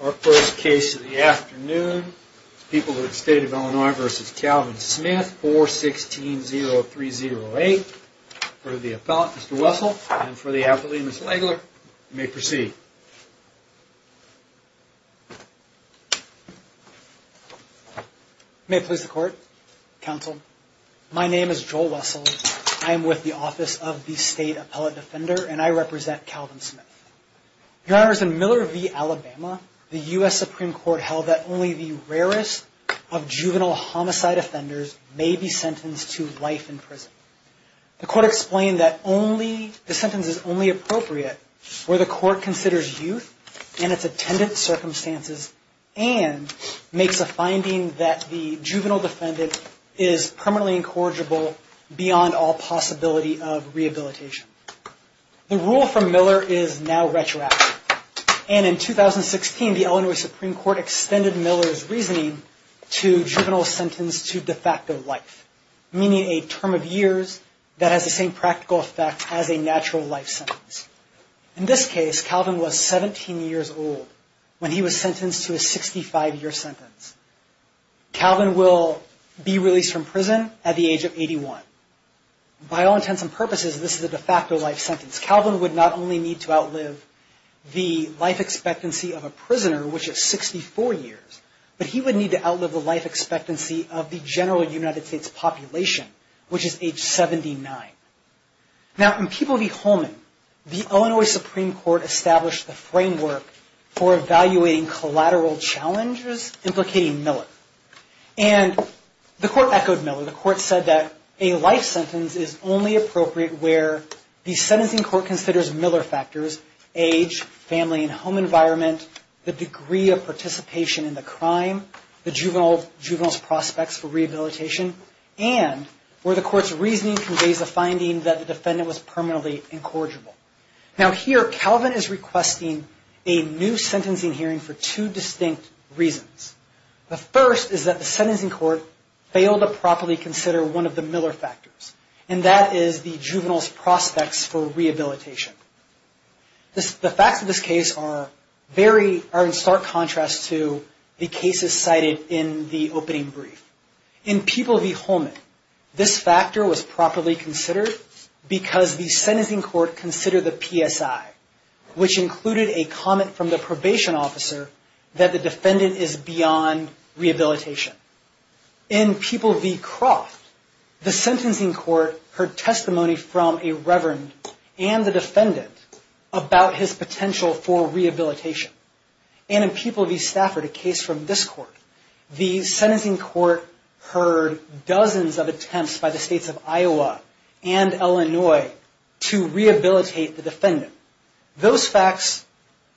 Our first case of the afternoon is People of the State of Illinois v. Calvin Smith, 416-0308. For the appellate, Mr. Wessel, and for the appellate, Ms. Legler, you may proceed. May it please the Court, Counsel, my name is Joel Wessel. I am with the Office of the State Appellate Defender, and I represent Calvin Smith. Your Honor, in Miller v. Alabama, the U.S. Supreme Court held that only the rarest of juvenile homicide offenders may be sentenced to life in prison. The Court explained that the sentence is only appropriate where the Court considers youth and its attendant circumstances and makes a finding that the juvenile defendant is permanently incorrigible beyond all possibility of rehabilitation. The rule from Miller is now retroactive, and in 2016, the Illinois Supreme Court extended Miller's reasoning to juvenile sentenced to de facto life, meaning a term of years that has the same practical effect as a natural life sentence. In this case, Calvin was 17 years old when he was sentenced to a 65-year sentence. Calvin will be released from prison at the age of 81. By all intents and purposes, this is a de facto life sentence. Calvin would not only need to outlive the life expectancy of a prisoner, which is 64 years, but he would need to outlive the life expectancy of the general United States population, which is age 79. Now, in People v. Holman, the Illinois Supreme Court established the framework for evaluating collateral challenges implicating Miller. And the Court echoed Miller. The Court said that a life sentence is only appropriate where the sentencing court considers Miller factors, age, family and home environment, the degree of participation in the crime, the juvenile's prospects for rehabilitation, and where the Court's reasoning conveys a finding that the defendant was permanently incorrigible. Now here, Calvin is requesting a new sentencing hearing for two distinct reasons. The first is that the sentencing court failed to properly consider one of the Miller factors, and that is the juvenile's prospects for rehabilitation. The facts of this case are in stark contrast to the cases cited in the opening brief. In People v. Holman, this factor was properly considered because the sentencing court considered the PSI, which included a comment from the probation officer that the defendant is beyond rehabilitation. In People v. Croft, the sentencing court heard testimony from a reverend and the defendant about his potential for rehabilitation. And in People v. Stafford, a case from this court, the sentencing court heard dozens of attempts by the states of Iowa and Illinois to rehabilitate the defendant. Those facts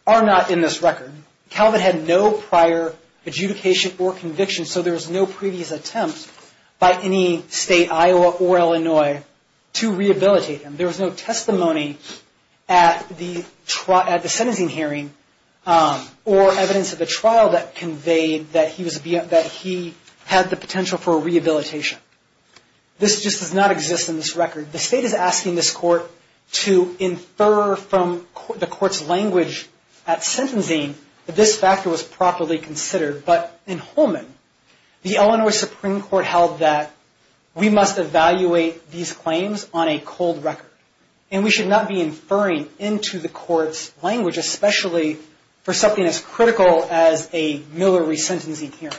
are not in this record. Calvin had no prior adjudication or conviction, so there was no previous attempt by any state, Iowa or Illinois, to rehabilitate him. There was no testimony at the sentencing hearing or evidence at the trial that conveyed that he had the potential for rehabilitation. This just does not exist in this record. The state is asking this court to infer from the court's language at sentencing that this factor was properly considered. But in Holman, the Illinois Supreme Court held that we must evaluate these claims on a cold record. And we should not be inferring into the court's language, especially for something as critical as a Millery sentencing hearing.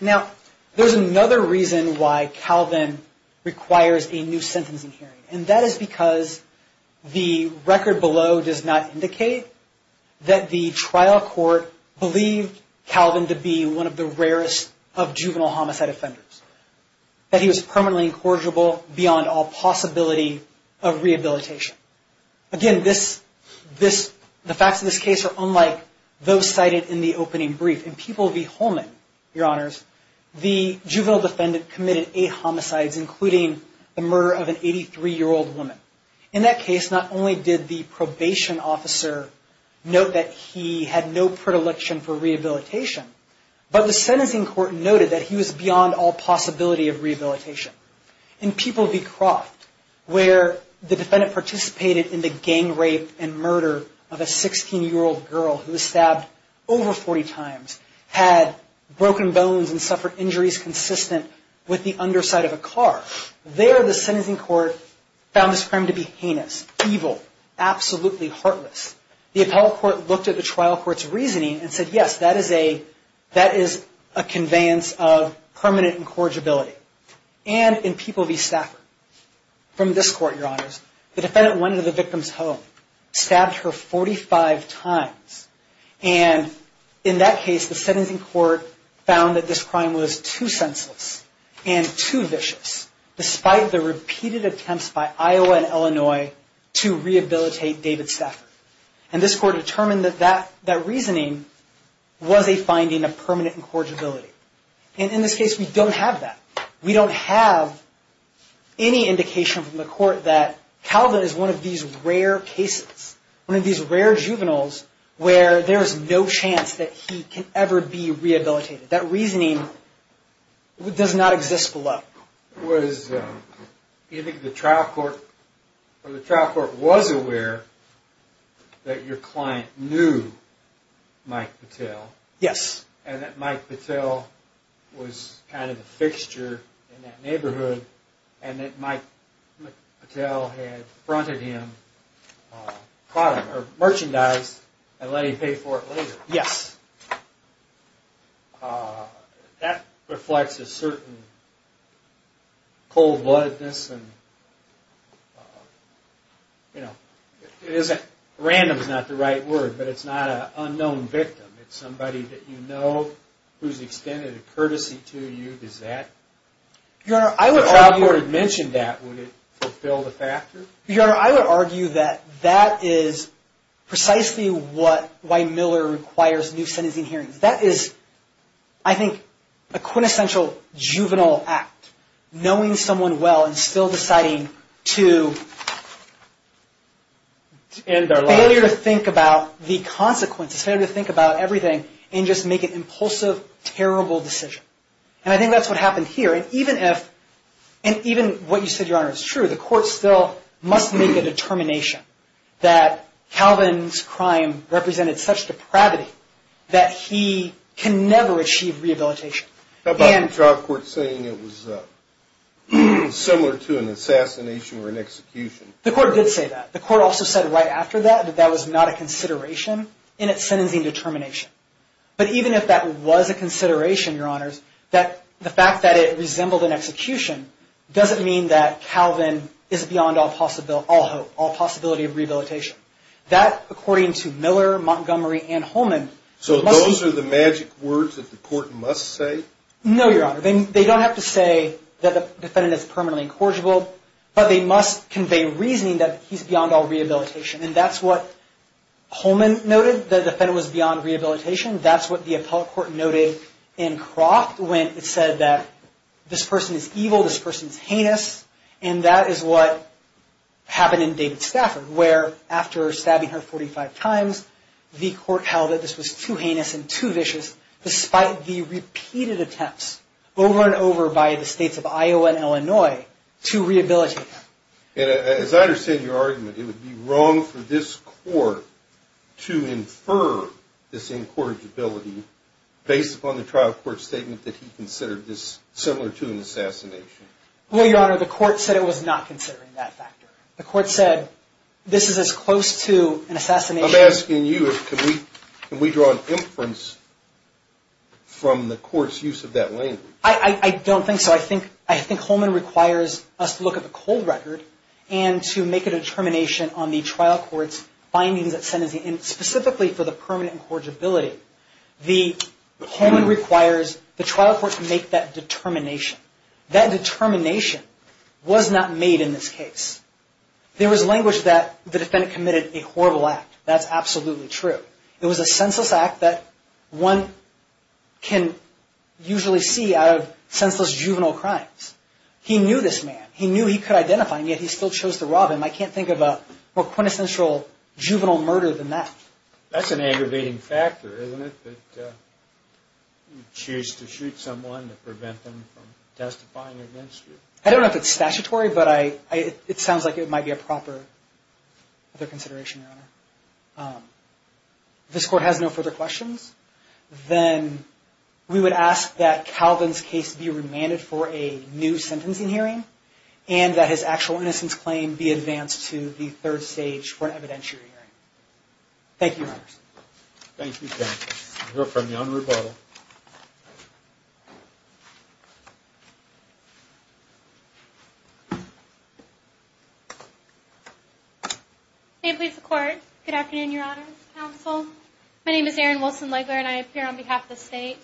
Now, there's another reason why Calvin requires a new sentencing hearing. And that is because the record below does not indicate that the trial court believed Calvin to be one of the rarest of juvenile homicide offenders, that he was permanently incorrigible beyond all possibility of rehabilitation. Again, the facts of this case are unlike those cited in the opening brief. In People v. Holman, Your Honors, the juvenile defendant committed eight homicides, including the murder of an 83-year-old woman. In that case, not only did the probation officer note that he had no predilection for rehabilitation, but the sentencing court noted that he was beyond all possibility of rehabilitation. In People v. Croft, where the defendant participated in the gang rape and murder of a 16-year-old girl who was stabbed over 40 times, had broken bones, and suffered injuries consistent with the underside of a car, there the sentencing court found this crime to be heinous, evil, absolutely heartless. The appellate court looked at the trial court's reasoning and said, yes, that is a conveyance of permanent incorrigibility. And in People v. Stafford, from this court, Your Honors, the defendant went into the victim's home, stabbed her 45 times. And in that case, the sentencing court found that this crime was too senseless and too vicious, despite the repeated attempts by Iowa and Illinois to rehabilitate David Stafford. And this court determined that that reasoning was a finding of permanent incorrigibility. And in this case, we don't have that. We don't have any indication from the court that Calvin is one of these rare cases, one of these rare juveniles, where there is no chance that he can ever be rehabilitated. That reasoning does not exist below. Do you think the trial court was aware that your client knew Mike Patel? Yes. And that Mike Patel was kind of the fixture in that neighborhood, and that Mike Patel had fronted him merchandise and let him pay for it later? Yes. That reflects a certain cold-bloodedness. Random is not the right word, but it's not an unknown victim. It's somebody that you know who's extended a courtesy to you. If the trial court had mentioned that, would it fulfill the factor? Your Honor, I would argue that that is precisely why Miller requires new sentencing hearings. That is, I think, a quintessential juvenile act, knowing someone well and still deciding to fail to think about the consequences, fail to think about everything, and just make an impulsive, terrible decision. And I think that's what happened here. And even what you said, Your Honor, is true. The court still must make a determination that Calvin's crime represented such depravity that he can never achieve rehabilitation. How about the trial court saying it was similar to an assassination or an execution? The court did say that. The court also said right after that that that was not a consideration in its sentencing determination. But even if that was a consideration, Your Honors, that the fact that it resembled an execution doesn't mean that Calvin is beyond all hope, all possibility of rehabilitation. That, according to Miller, Montgomery, and Holman, So those are the magic words that the court must say? No, Your Honor. They don't have to say that the defendant is permanently incorrigible, but they must convey reasoning that he's beyond all rehabilitation. And that's what Holman noted, that the defendant was beyond rehabilitation. That's what the appellate court noted in Croft when it said that this person is evil, this person is heinous. And that is what happened in David Stafford, where after stabbing her 45 times, the court held that this was too heinous and too vicious, despite the repeated attempts over and over by the states of Iowa and Illinois to rehabilitate him. As I understand your argument, it would be wrong for this court to infer this incorrigibility based upon the trial court statement that he considered this similar to an assassination. Well, Your Honor, the court said it was not considering that factor. The court said this is as close to an assassination I'm asking you, can we draw an inference from the court's use of that language? I don't think so. I think Holman requires us to look at the cold record and to make a determination on the trial court's findings at sentencing, and specifically for the permanent incorrigibility. Holman requires the trial court to make that determination. That determination was not made in this case. There was language that the defendant committed a horrible act. That's absolutely true. It was a senseless act that one can usually see out of senseless juvenile crimes. He knew this man. He knew he could identify him, yet he still chose to rob him. I can't think of a more quintessential juvenile murder than that. That's an aggravating factor, isn't it? That you choose to shoot someone to prevent them from testifying against you. I don't know if it's statutory, but it sounds like it might be a proper consideration, Your Honor. If this court has no further questions, then we would ask that Calvin's case be remanded for a new sentencing hearing, and that his actual innocence claim be advanced to the third stage for an evidentiary hearing. Thank you, Your Honor. Thank you, Ken. We'll hear from you on rebuttal. Ma'am, please. Ma'am, please. Good afternoon, Your Honor, counsel. My name is Erin Wilson-Legler, and I appear on behalf of the state.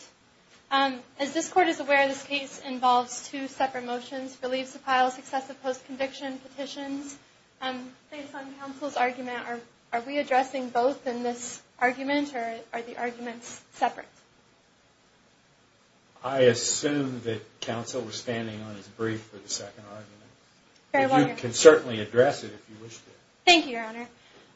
As this court is aware, this case involves two separate motions, relief to file successive post-conviction petitions. Based on counsel's argument, are we addressing both in this argument, or are the arguments separate? I assume that counsel was standing on his brief for the second argument. You can certainly address it if you wish to. Thank you, Your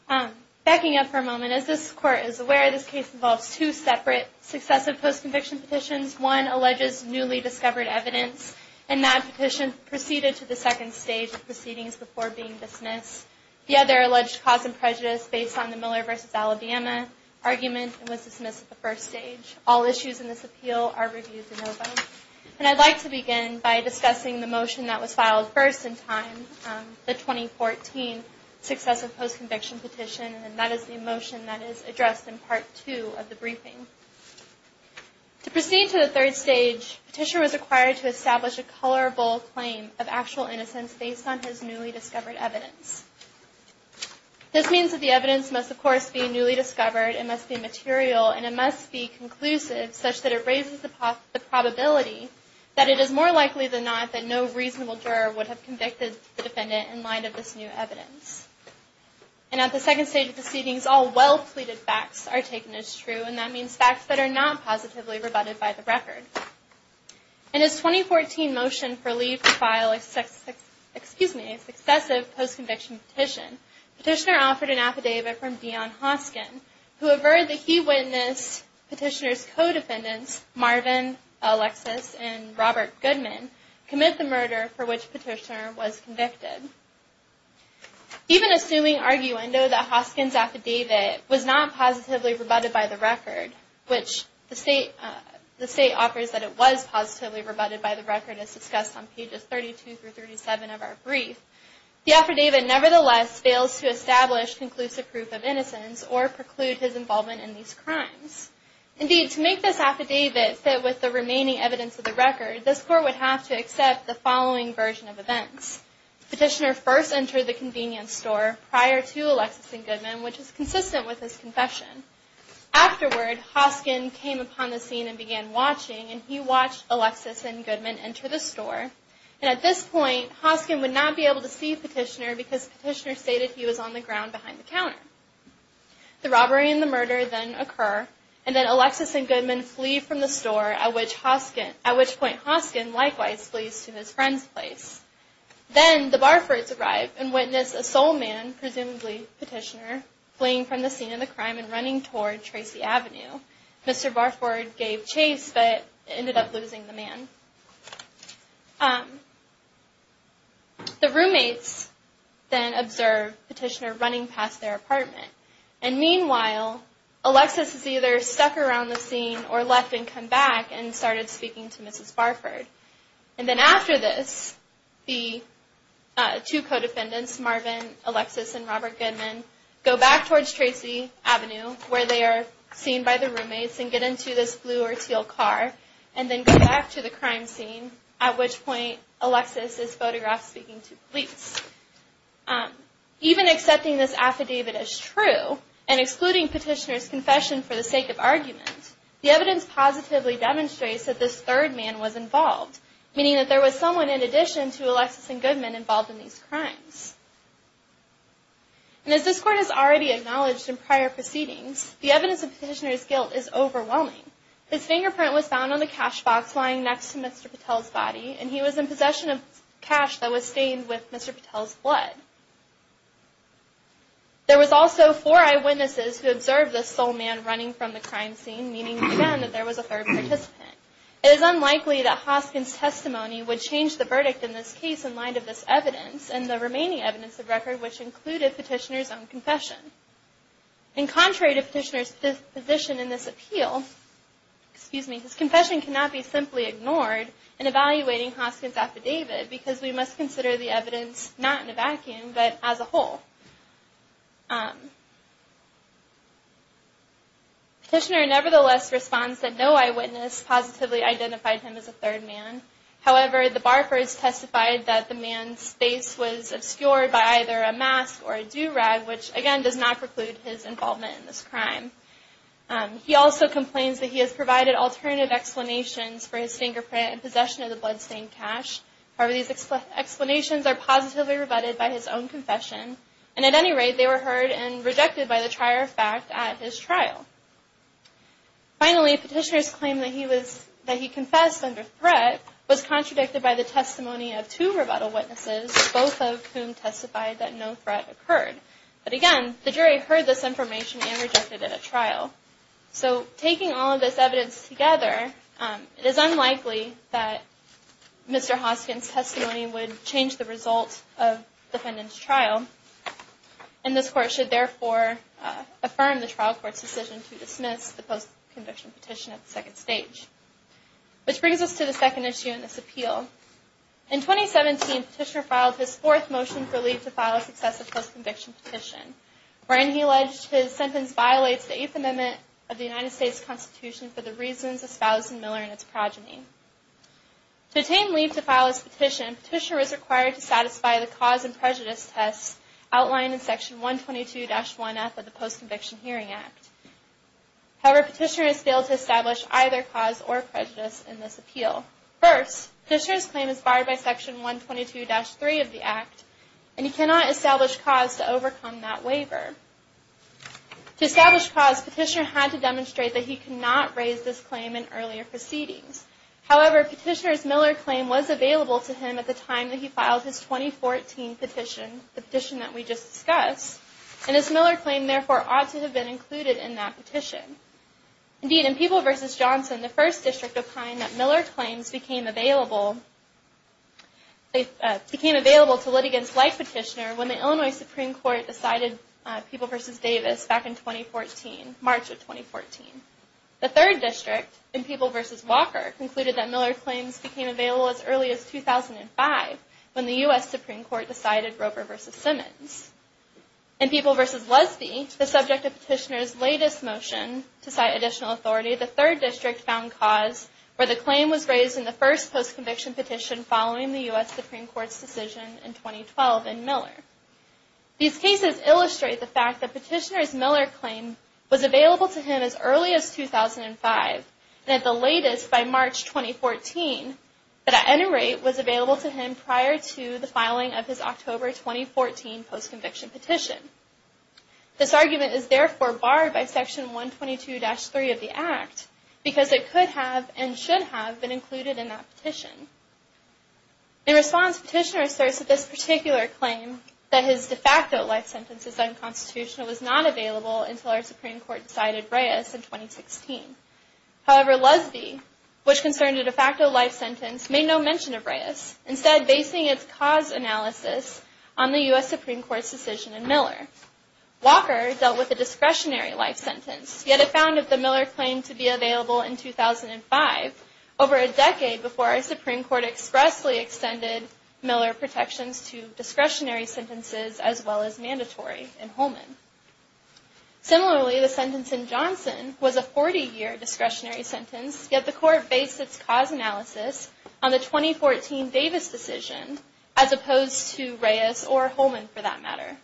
Honor. Backing up for a moment, as this court is aware, this case involves two separate successive post-conviction petitions. One alleges newly discovered evidence, and that petition proceeded to the second stage of proceedings before being dismissed. The other alleged cause and prejudice based on the Miller v. Alabama argument was dismissed at the first stage. All issues in this appeal are reviewed in open. And I'd like to begin by discussing the motion that was filed first in time, the 2014 successive post-conviction petition, and that is the motion that is addressed in Part 2 of the briefing. To proceed to the third stage, petitioner was required to establish a colorable claim of actual innocence based on his newly discovered evidence. This means that the evidence must, of course, be newly discovered, it must be material, and it must be conclusive, such that it raises the probability that it is more likely than not that no reasonable juror would have convicted the defendant in light of this new evidence. And at the second stage of proceedings, all well-pleaded facts are taken as true, and that means facts that are not positively rebutted by the record. In his 2014 motion for leave to file a successive post-conviction petition, petitioner offered an affidavit from Dion Hoskin, who averred that he witnessed petitioner's co-defendants, Marvin Alexis and Robert Goodman, commit the murder for which petitioner was convicted. Even assuming arguendo that Hoskin's affidavit was not positively rebutted by the record, which the state offers that it was positively rebutted by the record, as discussed on pages 32 through 37 of our brief, the affidavit nevertheless fails to establish conclusive proof of innocence or preclude his involvement in these crimes. Indeed, to make this affidavit fit with the remaining evidence of the record, this court would have to accept the following version of events. Petitioner first entered the convenience store prior to Alexis and Goodman, which is consistent with his confession. Afterward, Hoskin came upon the scene and began watching, and he watched Alexis and Goodman enter the store, and at this point, Hoskin would not be able to see petitioner because petitioner stated he was on the ground behind the counter. The robbery and the murder then occur, and then Alexis and Goodman flee from the store, at which point Hoskin likewise flees to his friend's place. Then, the Barfords arrive and witness a soul man, presumably petitioner, fleeing from the scene of the crime and running toward Tracy Avenue. Mr. Barford gave chase, but ended up losing the man. The roommates then observe petitioner running past their apartment, and meanwhile, Alexis is either stuck around the scene or left and come back and started speaking to Mrs. Barford. And then after this, the two co-defendants, Mrs. Marvin, Alexis, and Robert Goodman, go back towards Tracy Avenue, where they are seen by the roommates and get into this blue or teal car, and then go back to the crime scene, at which point Alexis is photographed speaking to police. Even accepting this affidavit as true, and excluding petitioner's confession for the sake of argument, the evidence positively demonstrates that this third man was involved, meaning that there was someone in addition to Alexis and Goodman involved in these crimes. And as this court has already acknowledged in prior proceedings, the evidence of petitioner's guilt is overwhelming. His fingerprint was found on the cash box lying next to Mr. Patel's body, and he was in possession of cash that was stained with Mr. Patel's blood. There was also four eyewitnesses who observed this soul man running from the crime scene, meaning, again, that there was a third participant. It is unlikely that Hoskin's testimony would change the verdict in this case in light of this evidence and the remaining evidence of record, which included petitioner's own confession. And contrary to petitioner's position in this appeal, his confession cannot be simply ignored in evaluating Hoskin's affidavit, because we must consider the evidence not in a vacuum, but as a whole. Petitioner nevertheless responds that no eyewitness positively identified him as a third man. However, the Barfords testified that the man's face was obscured by either a mask or a do-rag, which, again, does not preclude his involvement in this crime. He also complains that he has provided alternative explanations for his fingerprint and possession of the blood-stained cash. However, these explanations are positively rebutted by his own confession. And at any rate, they were heard and rejected by the trier of fact at his trial. Finally, petitioner's claim that he confessed under threat was contradicted by the testimony of two rebuttal witnesses, both of whom testified that no threat occurred. But again, the jury heard this information and rejected it at trial. So, taking all of this evidence together, it is unlikely that Mr. Hoskin's testimony would change the result of defendant's trial. And this court should therefore affirm the trial court's decision to dismiss the post-conviction petition at the second stage. Which brings us to the second issue in this appeal. In 2017, petitioner filed his fourth motion for leave to file a successive post-conviction petition, wherein he alleged his sentence violates the Eighth Amendment of the United States Constitution for the reasons espoused in Miller and its progeny. To attain leave to file his petition, petitioner is required to satisfy the cause and prejudice tests outlined in Section 122-1F of the Post-Conviction Hearing Act. However, petitioner has failed to establish either cause or prejudice in this appeal. First, petitioner's claim is barred by Section 122-3 of the Act and he cannot establish cause to overcome that waiver. To establish cause, petitioner had to demonstrate that he could not raise this claim in earlier proceedings. However, petitioner's Miller claim was available to him at the time that he filed his 2014 petition, the petition that we just discussed, and his Miller claim therefore ought to have been included in that petition. Indeed, in People v. Johnson, the First District opined that Miller claims became available to litigants like petitioner when the Illinois Supreme Court decided People v. Davis back in 2014, March of 2014. The Third District, in People v. Walker, concluded that Miller claims became available as early as 2005 when the U.S. Supreme Court decided Roper v. Simmons. In People v. Lesby, the subject of petitioner's latest motion to cite additional authority, the Third District found cause where the claim was raised in the first post-conviction petition following the U.S. Supreme Court's decision in 2012 in Miller. These cases illustrate the fact that petitioner's Miller claim was available to him as early as 2005 and at the latest by March 2014, but at any rate was available to him prior to the filing of his October 2014 post-conviction petition. This argument is therefore barred by Section 122-3 of the Act because it could have and should have been included in that petition. In response, petitioner asserts that this particular claim that his de facto life sentence is unconstitutional was not available until our Supreme Court decided Reyes in 2016. However, Lesby, which concerned a de facto life sentence, made no mention of Reyes, instead basing its cause analysis on the U.S. Supreme Court's decision in Miller. Walker dealt with a discretionary life sentence, yet it found that the Miller claim to be available in 2005 over a decade before our Supreme Court expressly extended Miller protections to discretionary sentences as well as mandatory in Holman. Similarly, the sentence in Johnson was a 40-year discretionary sentence, yet the Court based its cause analysis on the 2014 Davis decision as opposed to Reyes or Holman for that matter.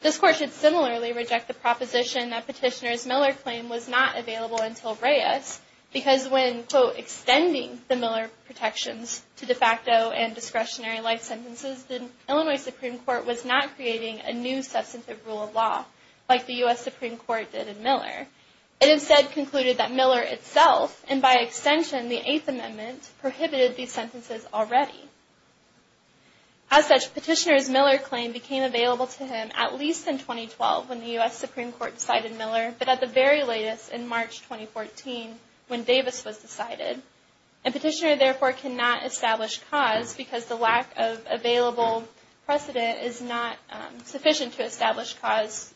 This Court should similarly reject the proposition that petitioner's Miller claim was not available until Reyes because when, quote, extending the Miller protections to de facto and discretionary life sentences, the Illinois Supreme Court was not creating a new substantive rule of law like the U.S. Supreme Court did in Miller. It instead concluded that Miller itself, and by extension the Eighth Amendment, prohibited these sentences already. As such, petitioner's Miller claim became available to him at least in 2012 when the U.S. Supreme Court decided Miller, but at the very latest in March 2014 when Davis was decided. A petitioner, therefore, cannot establish cause because the lack of available precedent is not sufficient to establish cause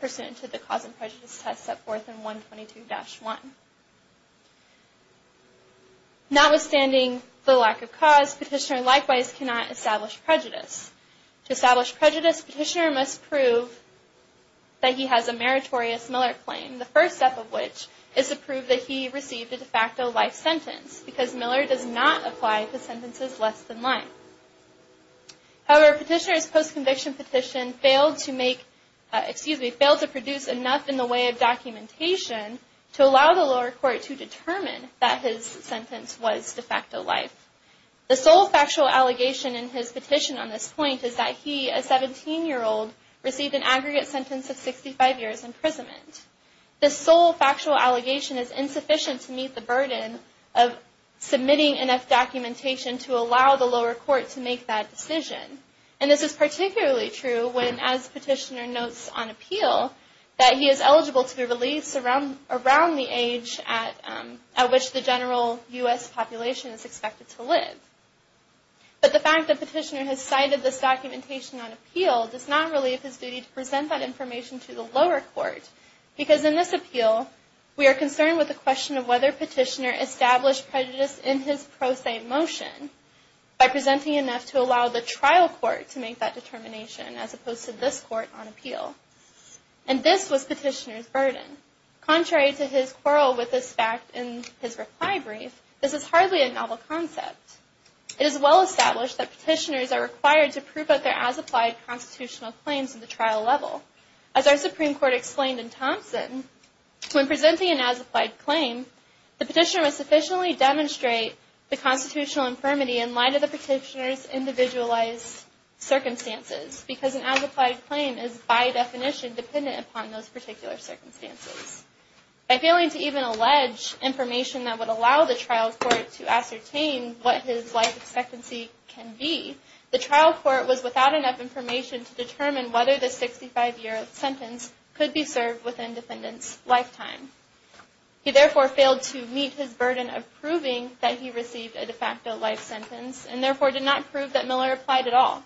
pursuant to the cause and prejudice test set forth in 122-1. Notwithstanding the lack of cause, petitioner likewise cannot establish prejudice. To establish prejudice, petitioner must prove that he has a meritorious Miller claim, the first step of which is to prove that he received a de facto life sentence because Miller does not apply to sentences less than life. However, petitioner's post-conviction petition failed to make, excuse me, failed to produce enough in the way of documentation to allow the lower court to determine that his sentence was de facto life. The sole factual allegation in his petition on this point is that he, a 17-year-old, received an aggregate sentence of 65 years imprisonment. This sole factual allegation is insufficient to meet the burden of submitting enough documentation to allow the lower court to make that decision. And this is particularly true when, as petitioner notes on appeal, that he is eligible to be released around the age at which the general U.S. population is expected to live. But the fact that petitioner has cited this documentation on appeal does not relieve his duty to present that information to the lower court because in this appeal, we are concerned with the question of whether petitioner established prejudice in his pro se motion by presenting enough to allow the trial court to make that determination as opposed to this court on appeal. And this was petitioner's burden. Contrary to his quarrel with this fact in his reply brief, this is hardly a novel concept. It is well established that petitioners are required to prove that there are as-applied constitutional claims at the trial level. As our Supreme Court explained in Thompson, when presenting an as-applied claim, the petitioner must sufficiently demonstrate the constitutional infirmity in light of the petitioner's individualized circumstances because an as-applied claim is by definition dependent upon those particular circumstances. By failing to even allege information that would allow the trial court to ascertain what his life expectancy can be, the trial court was without enough information to determine whether the 65-year sentence could be served within defendant's lifetime. He therefore failed to meet his burden of proving that he received a de facto life sentence and therefore did not prove that Miller applied at all.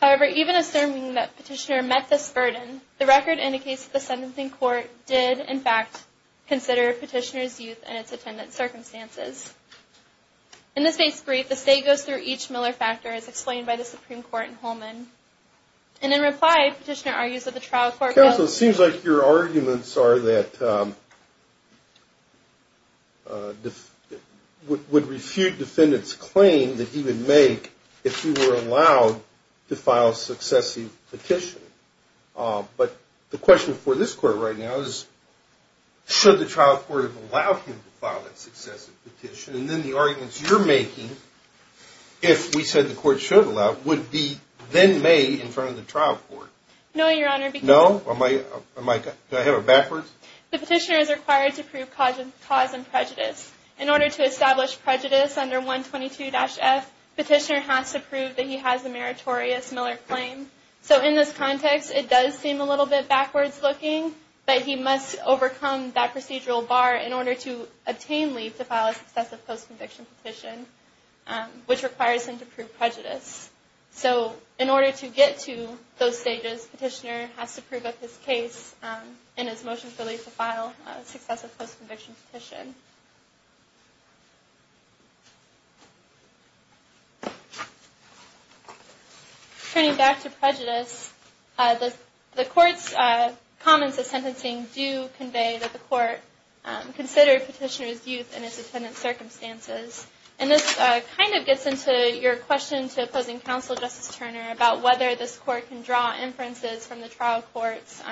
However, even assuming that petitioner met this burden, the record indicates that the sentencing court did, in fact, consider petitioner's youth and its attendant circumstances. In this case brief, the state goes through each Miller factor as explained by the Supreme Court in Holman. And in reply, petitioner argues that the trial court... So it seems like your arguments are that... would refute defendant's claim that he would make if he were allowed to file successive petition. But the question for this court right now is should the trial court have allowed him to file a successive petition? And then the arguments you're making, if we said the court should allow, would be then made in front of the trial court. No, Your Honor, because... No? Do I have it backwards? The petitioner is required to prove cause and prejudice. In order to establish prejudice under 122-F, petitioner has to prove that he has a meritorious Miller claim. So in this context, it does seem a little bit backwards looking, but he must overcome that procedural bar in order to obtain leave to file a successive post-conviction petition, which requires him to prove prejudice. So in order to get to those stages, petitioner has to prove that his case and his motion for leave to file a successive post-conviction petition. Turning back to prejudice, the court's comments of sentencing do convey that the court considered petitioner's youth and his attendance circumstances. And this kind of gets into your question to opposing counsel Justice Turner about whether this court can draw inferences from the trial court's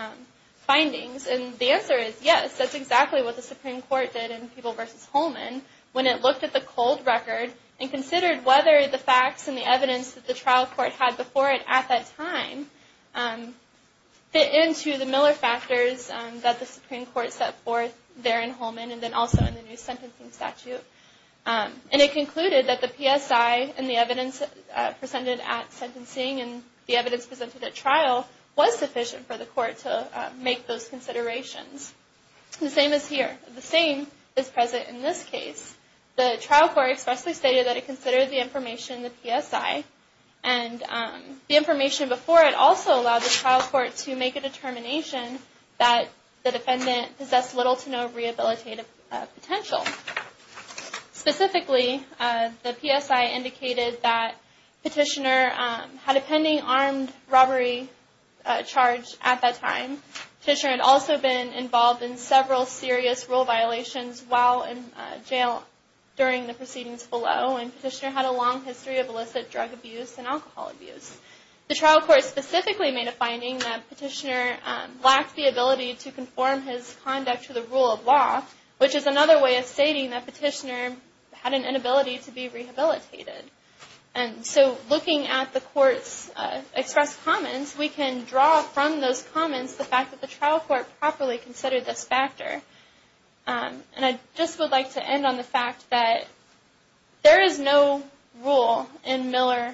findings. And the answer is yes, that's exactly what the Supreme Court did in Peeble v. Holman when it looked at the cold record and considered whether the facts and the evidence that the trial court had before it at that time fit into the Miller factors that the Supreme Court set forth there in Holman and then also in the new sentencing statute. And it concluded that the PSI and the evidence presented at sentencing and the evidence presented at trial was sufficient for the court to make those considerations. The same is here. The same is present in this case. The trial court expressly stated that it considered the information in the PSI and the information before it also allowed the trial court to make a determination that the defendant possessed little to no rehabilitative potential. Specifically, the PSI indicated that petitioner had a pending armed robbery charge at that time. Petitioner had also been involved in several serious rule violations while in jail during the proceedings below and petitioner had a long history of illicit drug abuse and alcohol abuse. The trial court specifically made a finding that petitioner lacked the ability to conform his conduct to the rule of law, which is another way of stating that petitioner had an inability to be rehabilitated. And so looking at the court's expressed comments, we can draw from those comments the fact that the trial court properly considered this factor. And I just would like to end on the fact that there is no rule in Miller,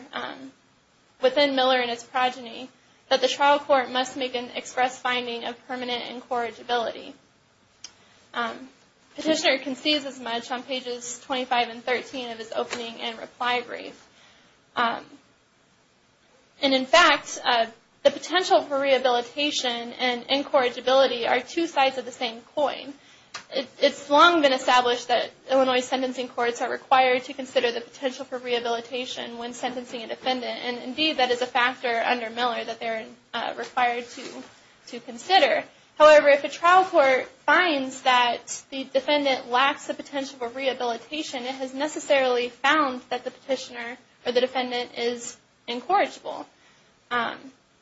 within Miller and its progeny, that the trial court must make an express finding of permanent incorrigibility. Petitioner concedes as much on pages 25 and 13 of his opening and reply brief. And in fact, the potential for rehabilitation and incorrigibility are two sides of the same coin. It's long been established that Illinois sentencing courts are required to consider the potential for rehabilitation when sentencing a defendant and indeed that is a factor under Miller that they are required to consider. However, if a trial court finds that the defendant lacks the potential for rehabilitation, it has necessarily found that the petitioner or the defendant is incorrigible.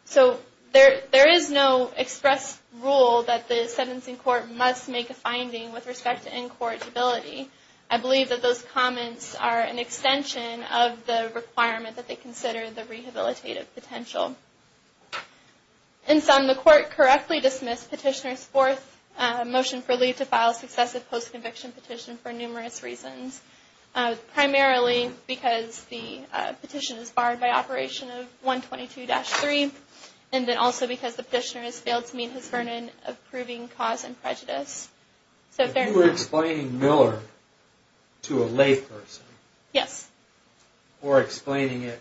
So there is no express rule that the sentencing court must make a finding with respect to incorrigibility. I believe that those comments are an extension of the requirement that they consider the rehabilitative potential. In sum, the court correctly dismissed petitioner's fourth motion for leave to file a successive post-conviction petition for numerous reasons. Primarily because the petition is barred by operation of 122-3 and then also because the petitioner has failed to meet his burden of proving cause and prejudice. If you were explaining Miller to a lay person or explaining it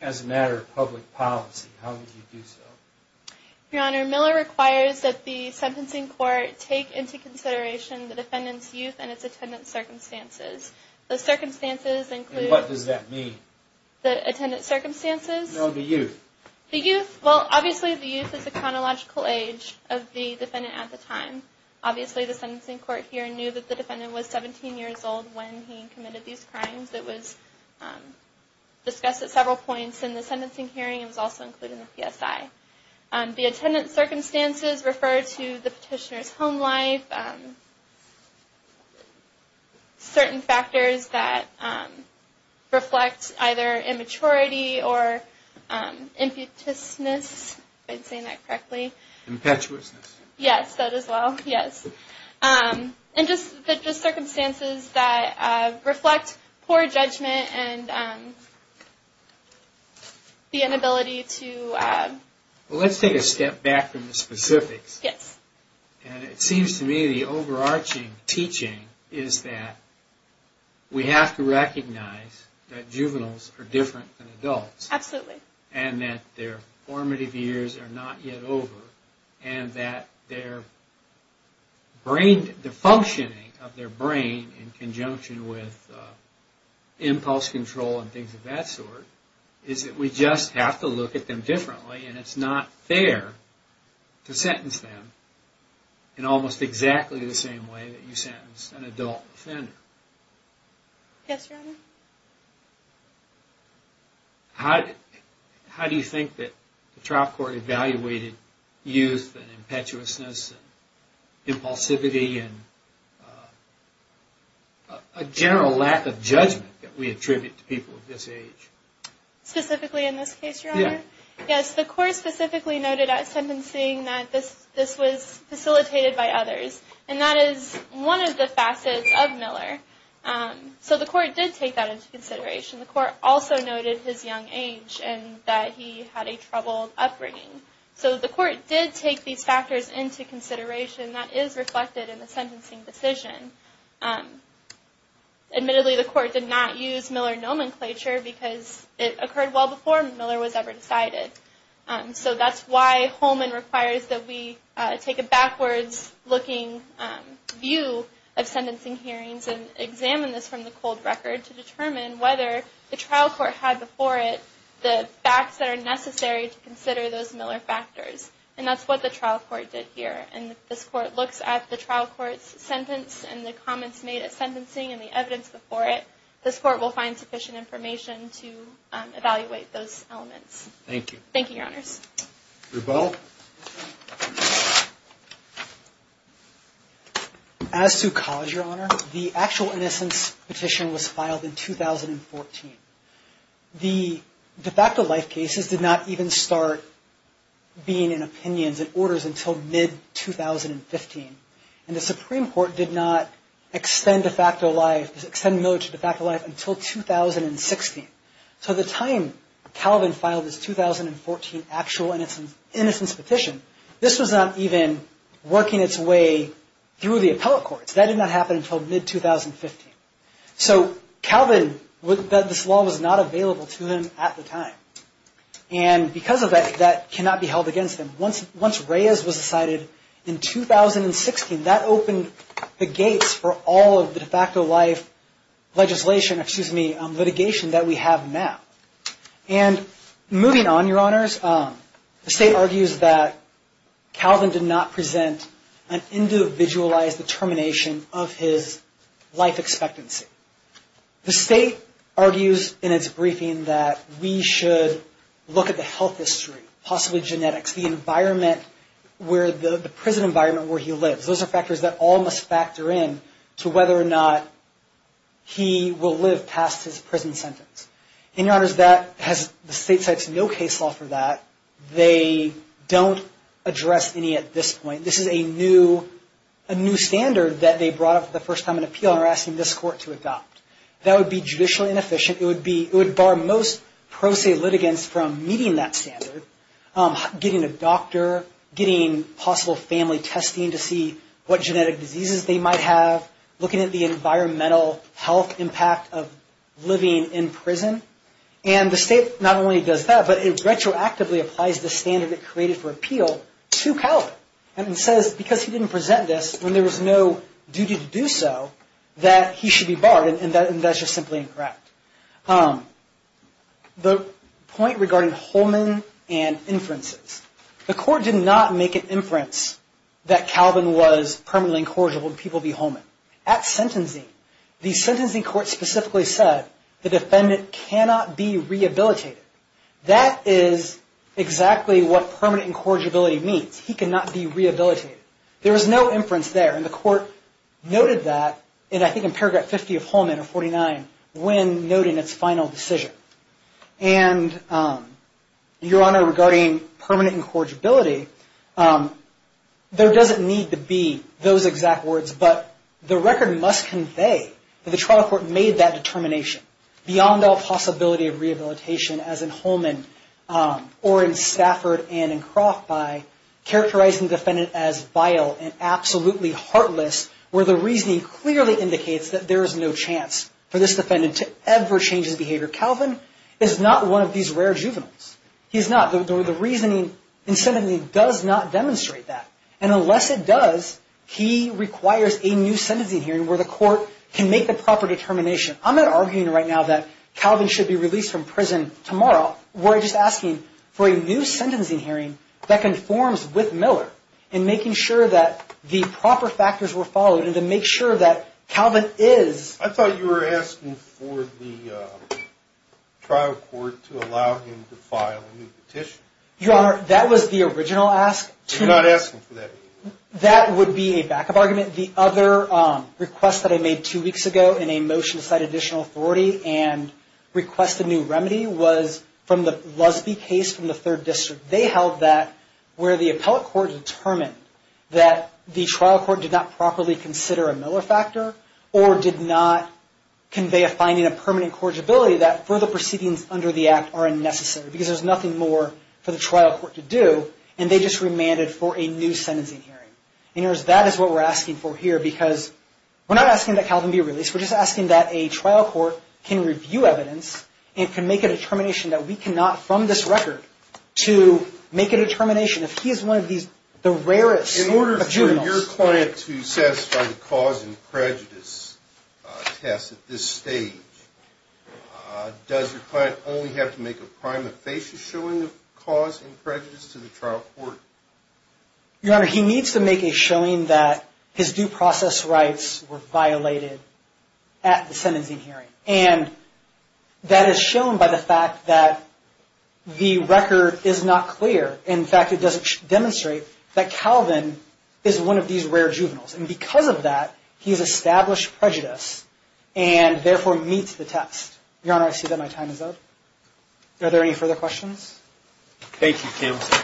as a matter of public policy, how would you do so? Your Honor, Miller requires that the sentencing court take into consideration the defendant's youth and its attendant circumstances. The circumstances include... What does that mean? The attendant circumstances... No, the youth. The youth, well obviously the youth is the chronological age of the defendant at the time. Obviously the sentencing court here knew that the defendant was 17 years old when he committed these crimes. It was discussed at several points in the sentencing hearing. It was also included in the PSI. The attendant circumstances refer to the petitioner's home life, certain factors that reflect either immaturity or impetuousness, if I'm saying that correctly. Impetuousness. Yes, that as well, yes. And just the circumstances that reflect poor judgment and the inability to... Well, let's take a step back from the specifics. Yes. And it seems to me the overarching teaching is that we have to recognize that juveniles are different than adults. Absolutely. And that their formative years are not yet over and that the functioning of their brain in conjunction with impulse control and things of that sort is that we just have to look at them differently and it's not fair to sentence them in almost exactly the same way that you sentence an adult offender. Yes, Your Honor. How do you think that the trial court evaluated youth and impetuousness and impulsivity and a general lack of judgment that we attribute to people of this age? Specifically in this case, Your Honor? Yes. Yes, the court specifically noted at sentencing that this was facilitated by others and that is one of the facets of Miller. So the court did take that into consideration. The court also noted his young age and that he had a troubled upbringing. So the court did take these factors into consideration that is reflected in the sentencing decision. Admittedly, the court did not use Miller nomenclature because it occurred well before Miller was ever decided. So that's why Holman requires that we take a backwards-looking view of sentencing hearings and examine this from the cold record to determine whether the trial court had before it the facts that are necessary to consider those Miller factors. And that's what the trial court did here. And this court looks at the trial court's sentence and the comments made at sentencing and the evidence before it. This court will find sufficient information to evaluate those elements. Thank you. Thank you, Your Honors. Rebell? Rebell. As to cause, Your Honor, the actual innocence petition was filed in 2014. The de facto life cases did not even start being in opinions and orders until mid-2015. And the Supreme Court did not extend Miller to de facto life until 2016. So the time Calvin filed his 2014 actual innocence petition, this was not even working its way through the appellate courts. That did not happen until mid-2015. So Calvin, this law was not available to him at the time. And because of that, that cannot be held against him. Once Reyes was decided in 2016, that opened the gates for all of the de facto life litigation that we have now. And moving on, Your Honors, the State argues that Calvin did not present an individualized determination of his life expectancy. The State argues in its briefing that we should look at the health history, possibly genetics, the prison environment where he lives. Those are factors that all must factor in to whether or not he will live past his prison sentence. And, Your Honors, the State sets no case law for that. They don't address any at this point. This is a new standard that they brought up for the first time in appeal and are asking this Court to adopt. That would be judicially inefficient. It would bar most pro se litigants from meeting that standard, getting a doctor, getting possible family testing to see what genetic diseases they might have, looking at the environmental health impact of living in prison. And the State not only does that, but it retroactively applies the standard it created for appeal to Calvin. And it says because he didn't present this, when there was no duty to do so, that he should be barred. And that's just simply incorrect. The point regarding Holman and inferences. The Court did not make an inference that Calvin was permanently incorrigible to people via Holman. At sentencing, the sentencing court specifically said the defendant cannot be rehabilitated. That is exactly what permanent incorrigibility means. He cannot be rehabilitated. There is no inference there. And the Court noted that, I think in paragraph 50 of Holman or 49, when noting its final decision. And, Your Honor, regarding permanent incorrigibility, there doesn't need to be those exact words, but the record must convey that the trial court made that determination beyond all possibility of rehabilitation as in Holman or in Stafford and in Croft by characterizing the defendant as vile and absolutely heartless, where the reasoning clearly indicates that there is no chance for this defendant to ever change his behavior. Calvin is not one of these rare juveniles. He is not. The reasoning in sentencing does not demonstrate that. And unless it does, he requires a new sentencing hearing where the Court can make the proper determination. I'm not arguing right now that Calvin should be released from prison tomorrow. We're just asking for a new sentencing hearing that conforms with Miller and making sure that the proper factors were followed and to make sure that Calvin is. I thought you were asking for the trial court to allow him to file a new petition. Your Honor, that was the original ask. I'm not asking for that. That would be a backup argument. The other request that I made two weeks ago in a motion to cite additional authority and request a new remedy was from the Lusby case from the Third District. They held that where the appellate court determined that the trial court did not properly consider a Miller factor or did not convey a finding of permanent incorrigibility, that further proceedings under the Act are unnecessary because there's nothing more for the trial court to do, and they just remanded for a new sentencing hearing. Your Honor, that is what we're asking for here because we're not asking that Calvin be released. We're just asking that a trial court can review evidence and can make a determination that we cannot, from this record, to make a determination. If he is one of the rarest materials. In order for your client to satisfy the cause and prejudice test at this stage, does your client only have to make a prima facie showing of cause and prejudice to the trial court? Your Honor, he needs to make a showing that his due process rights were violated at the sentencing hearing. And that is shown by the fact that the record is not clear. In fact, it doesn't demonstrate that Calvin is one of these rare juveniles. And because of that, he has established prejudice and, therefore, meets the test. Your Honor, I see that my time is up. Are there any further questions? Thank you, counsel. Okay. Thank you, Your Honor.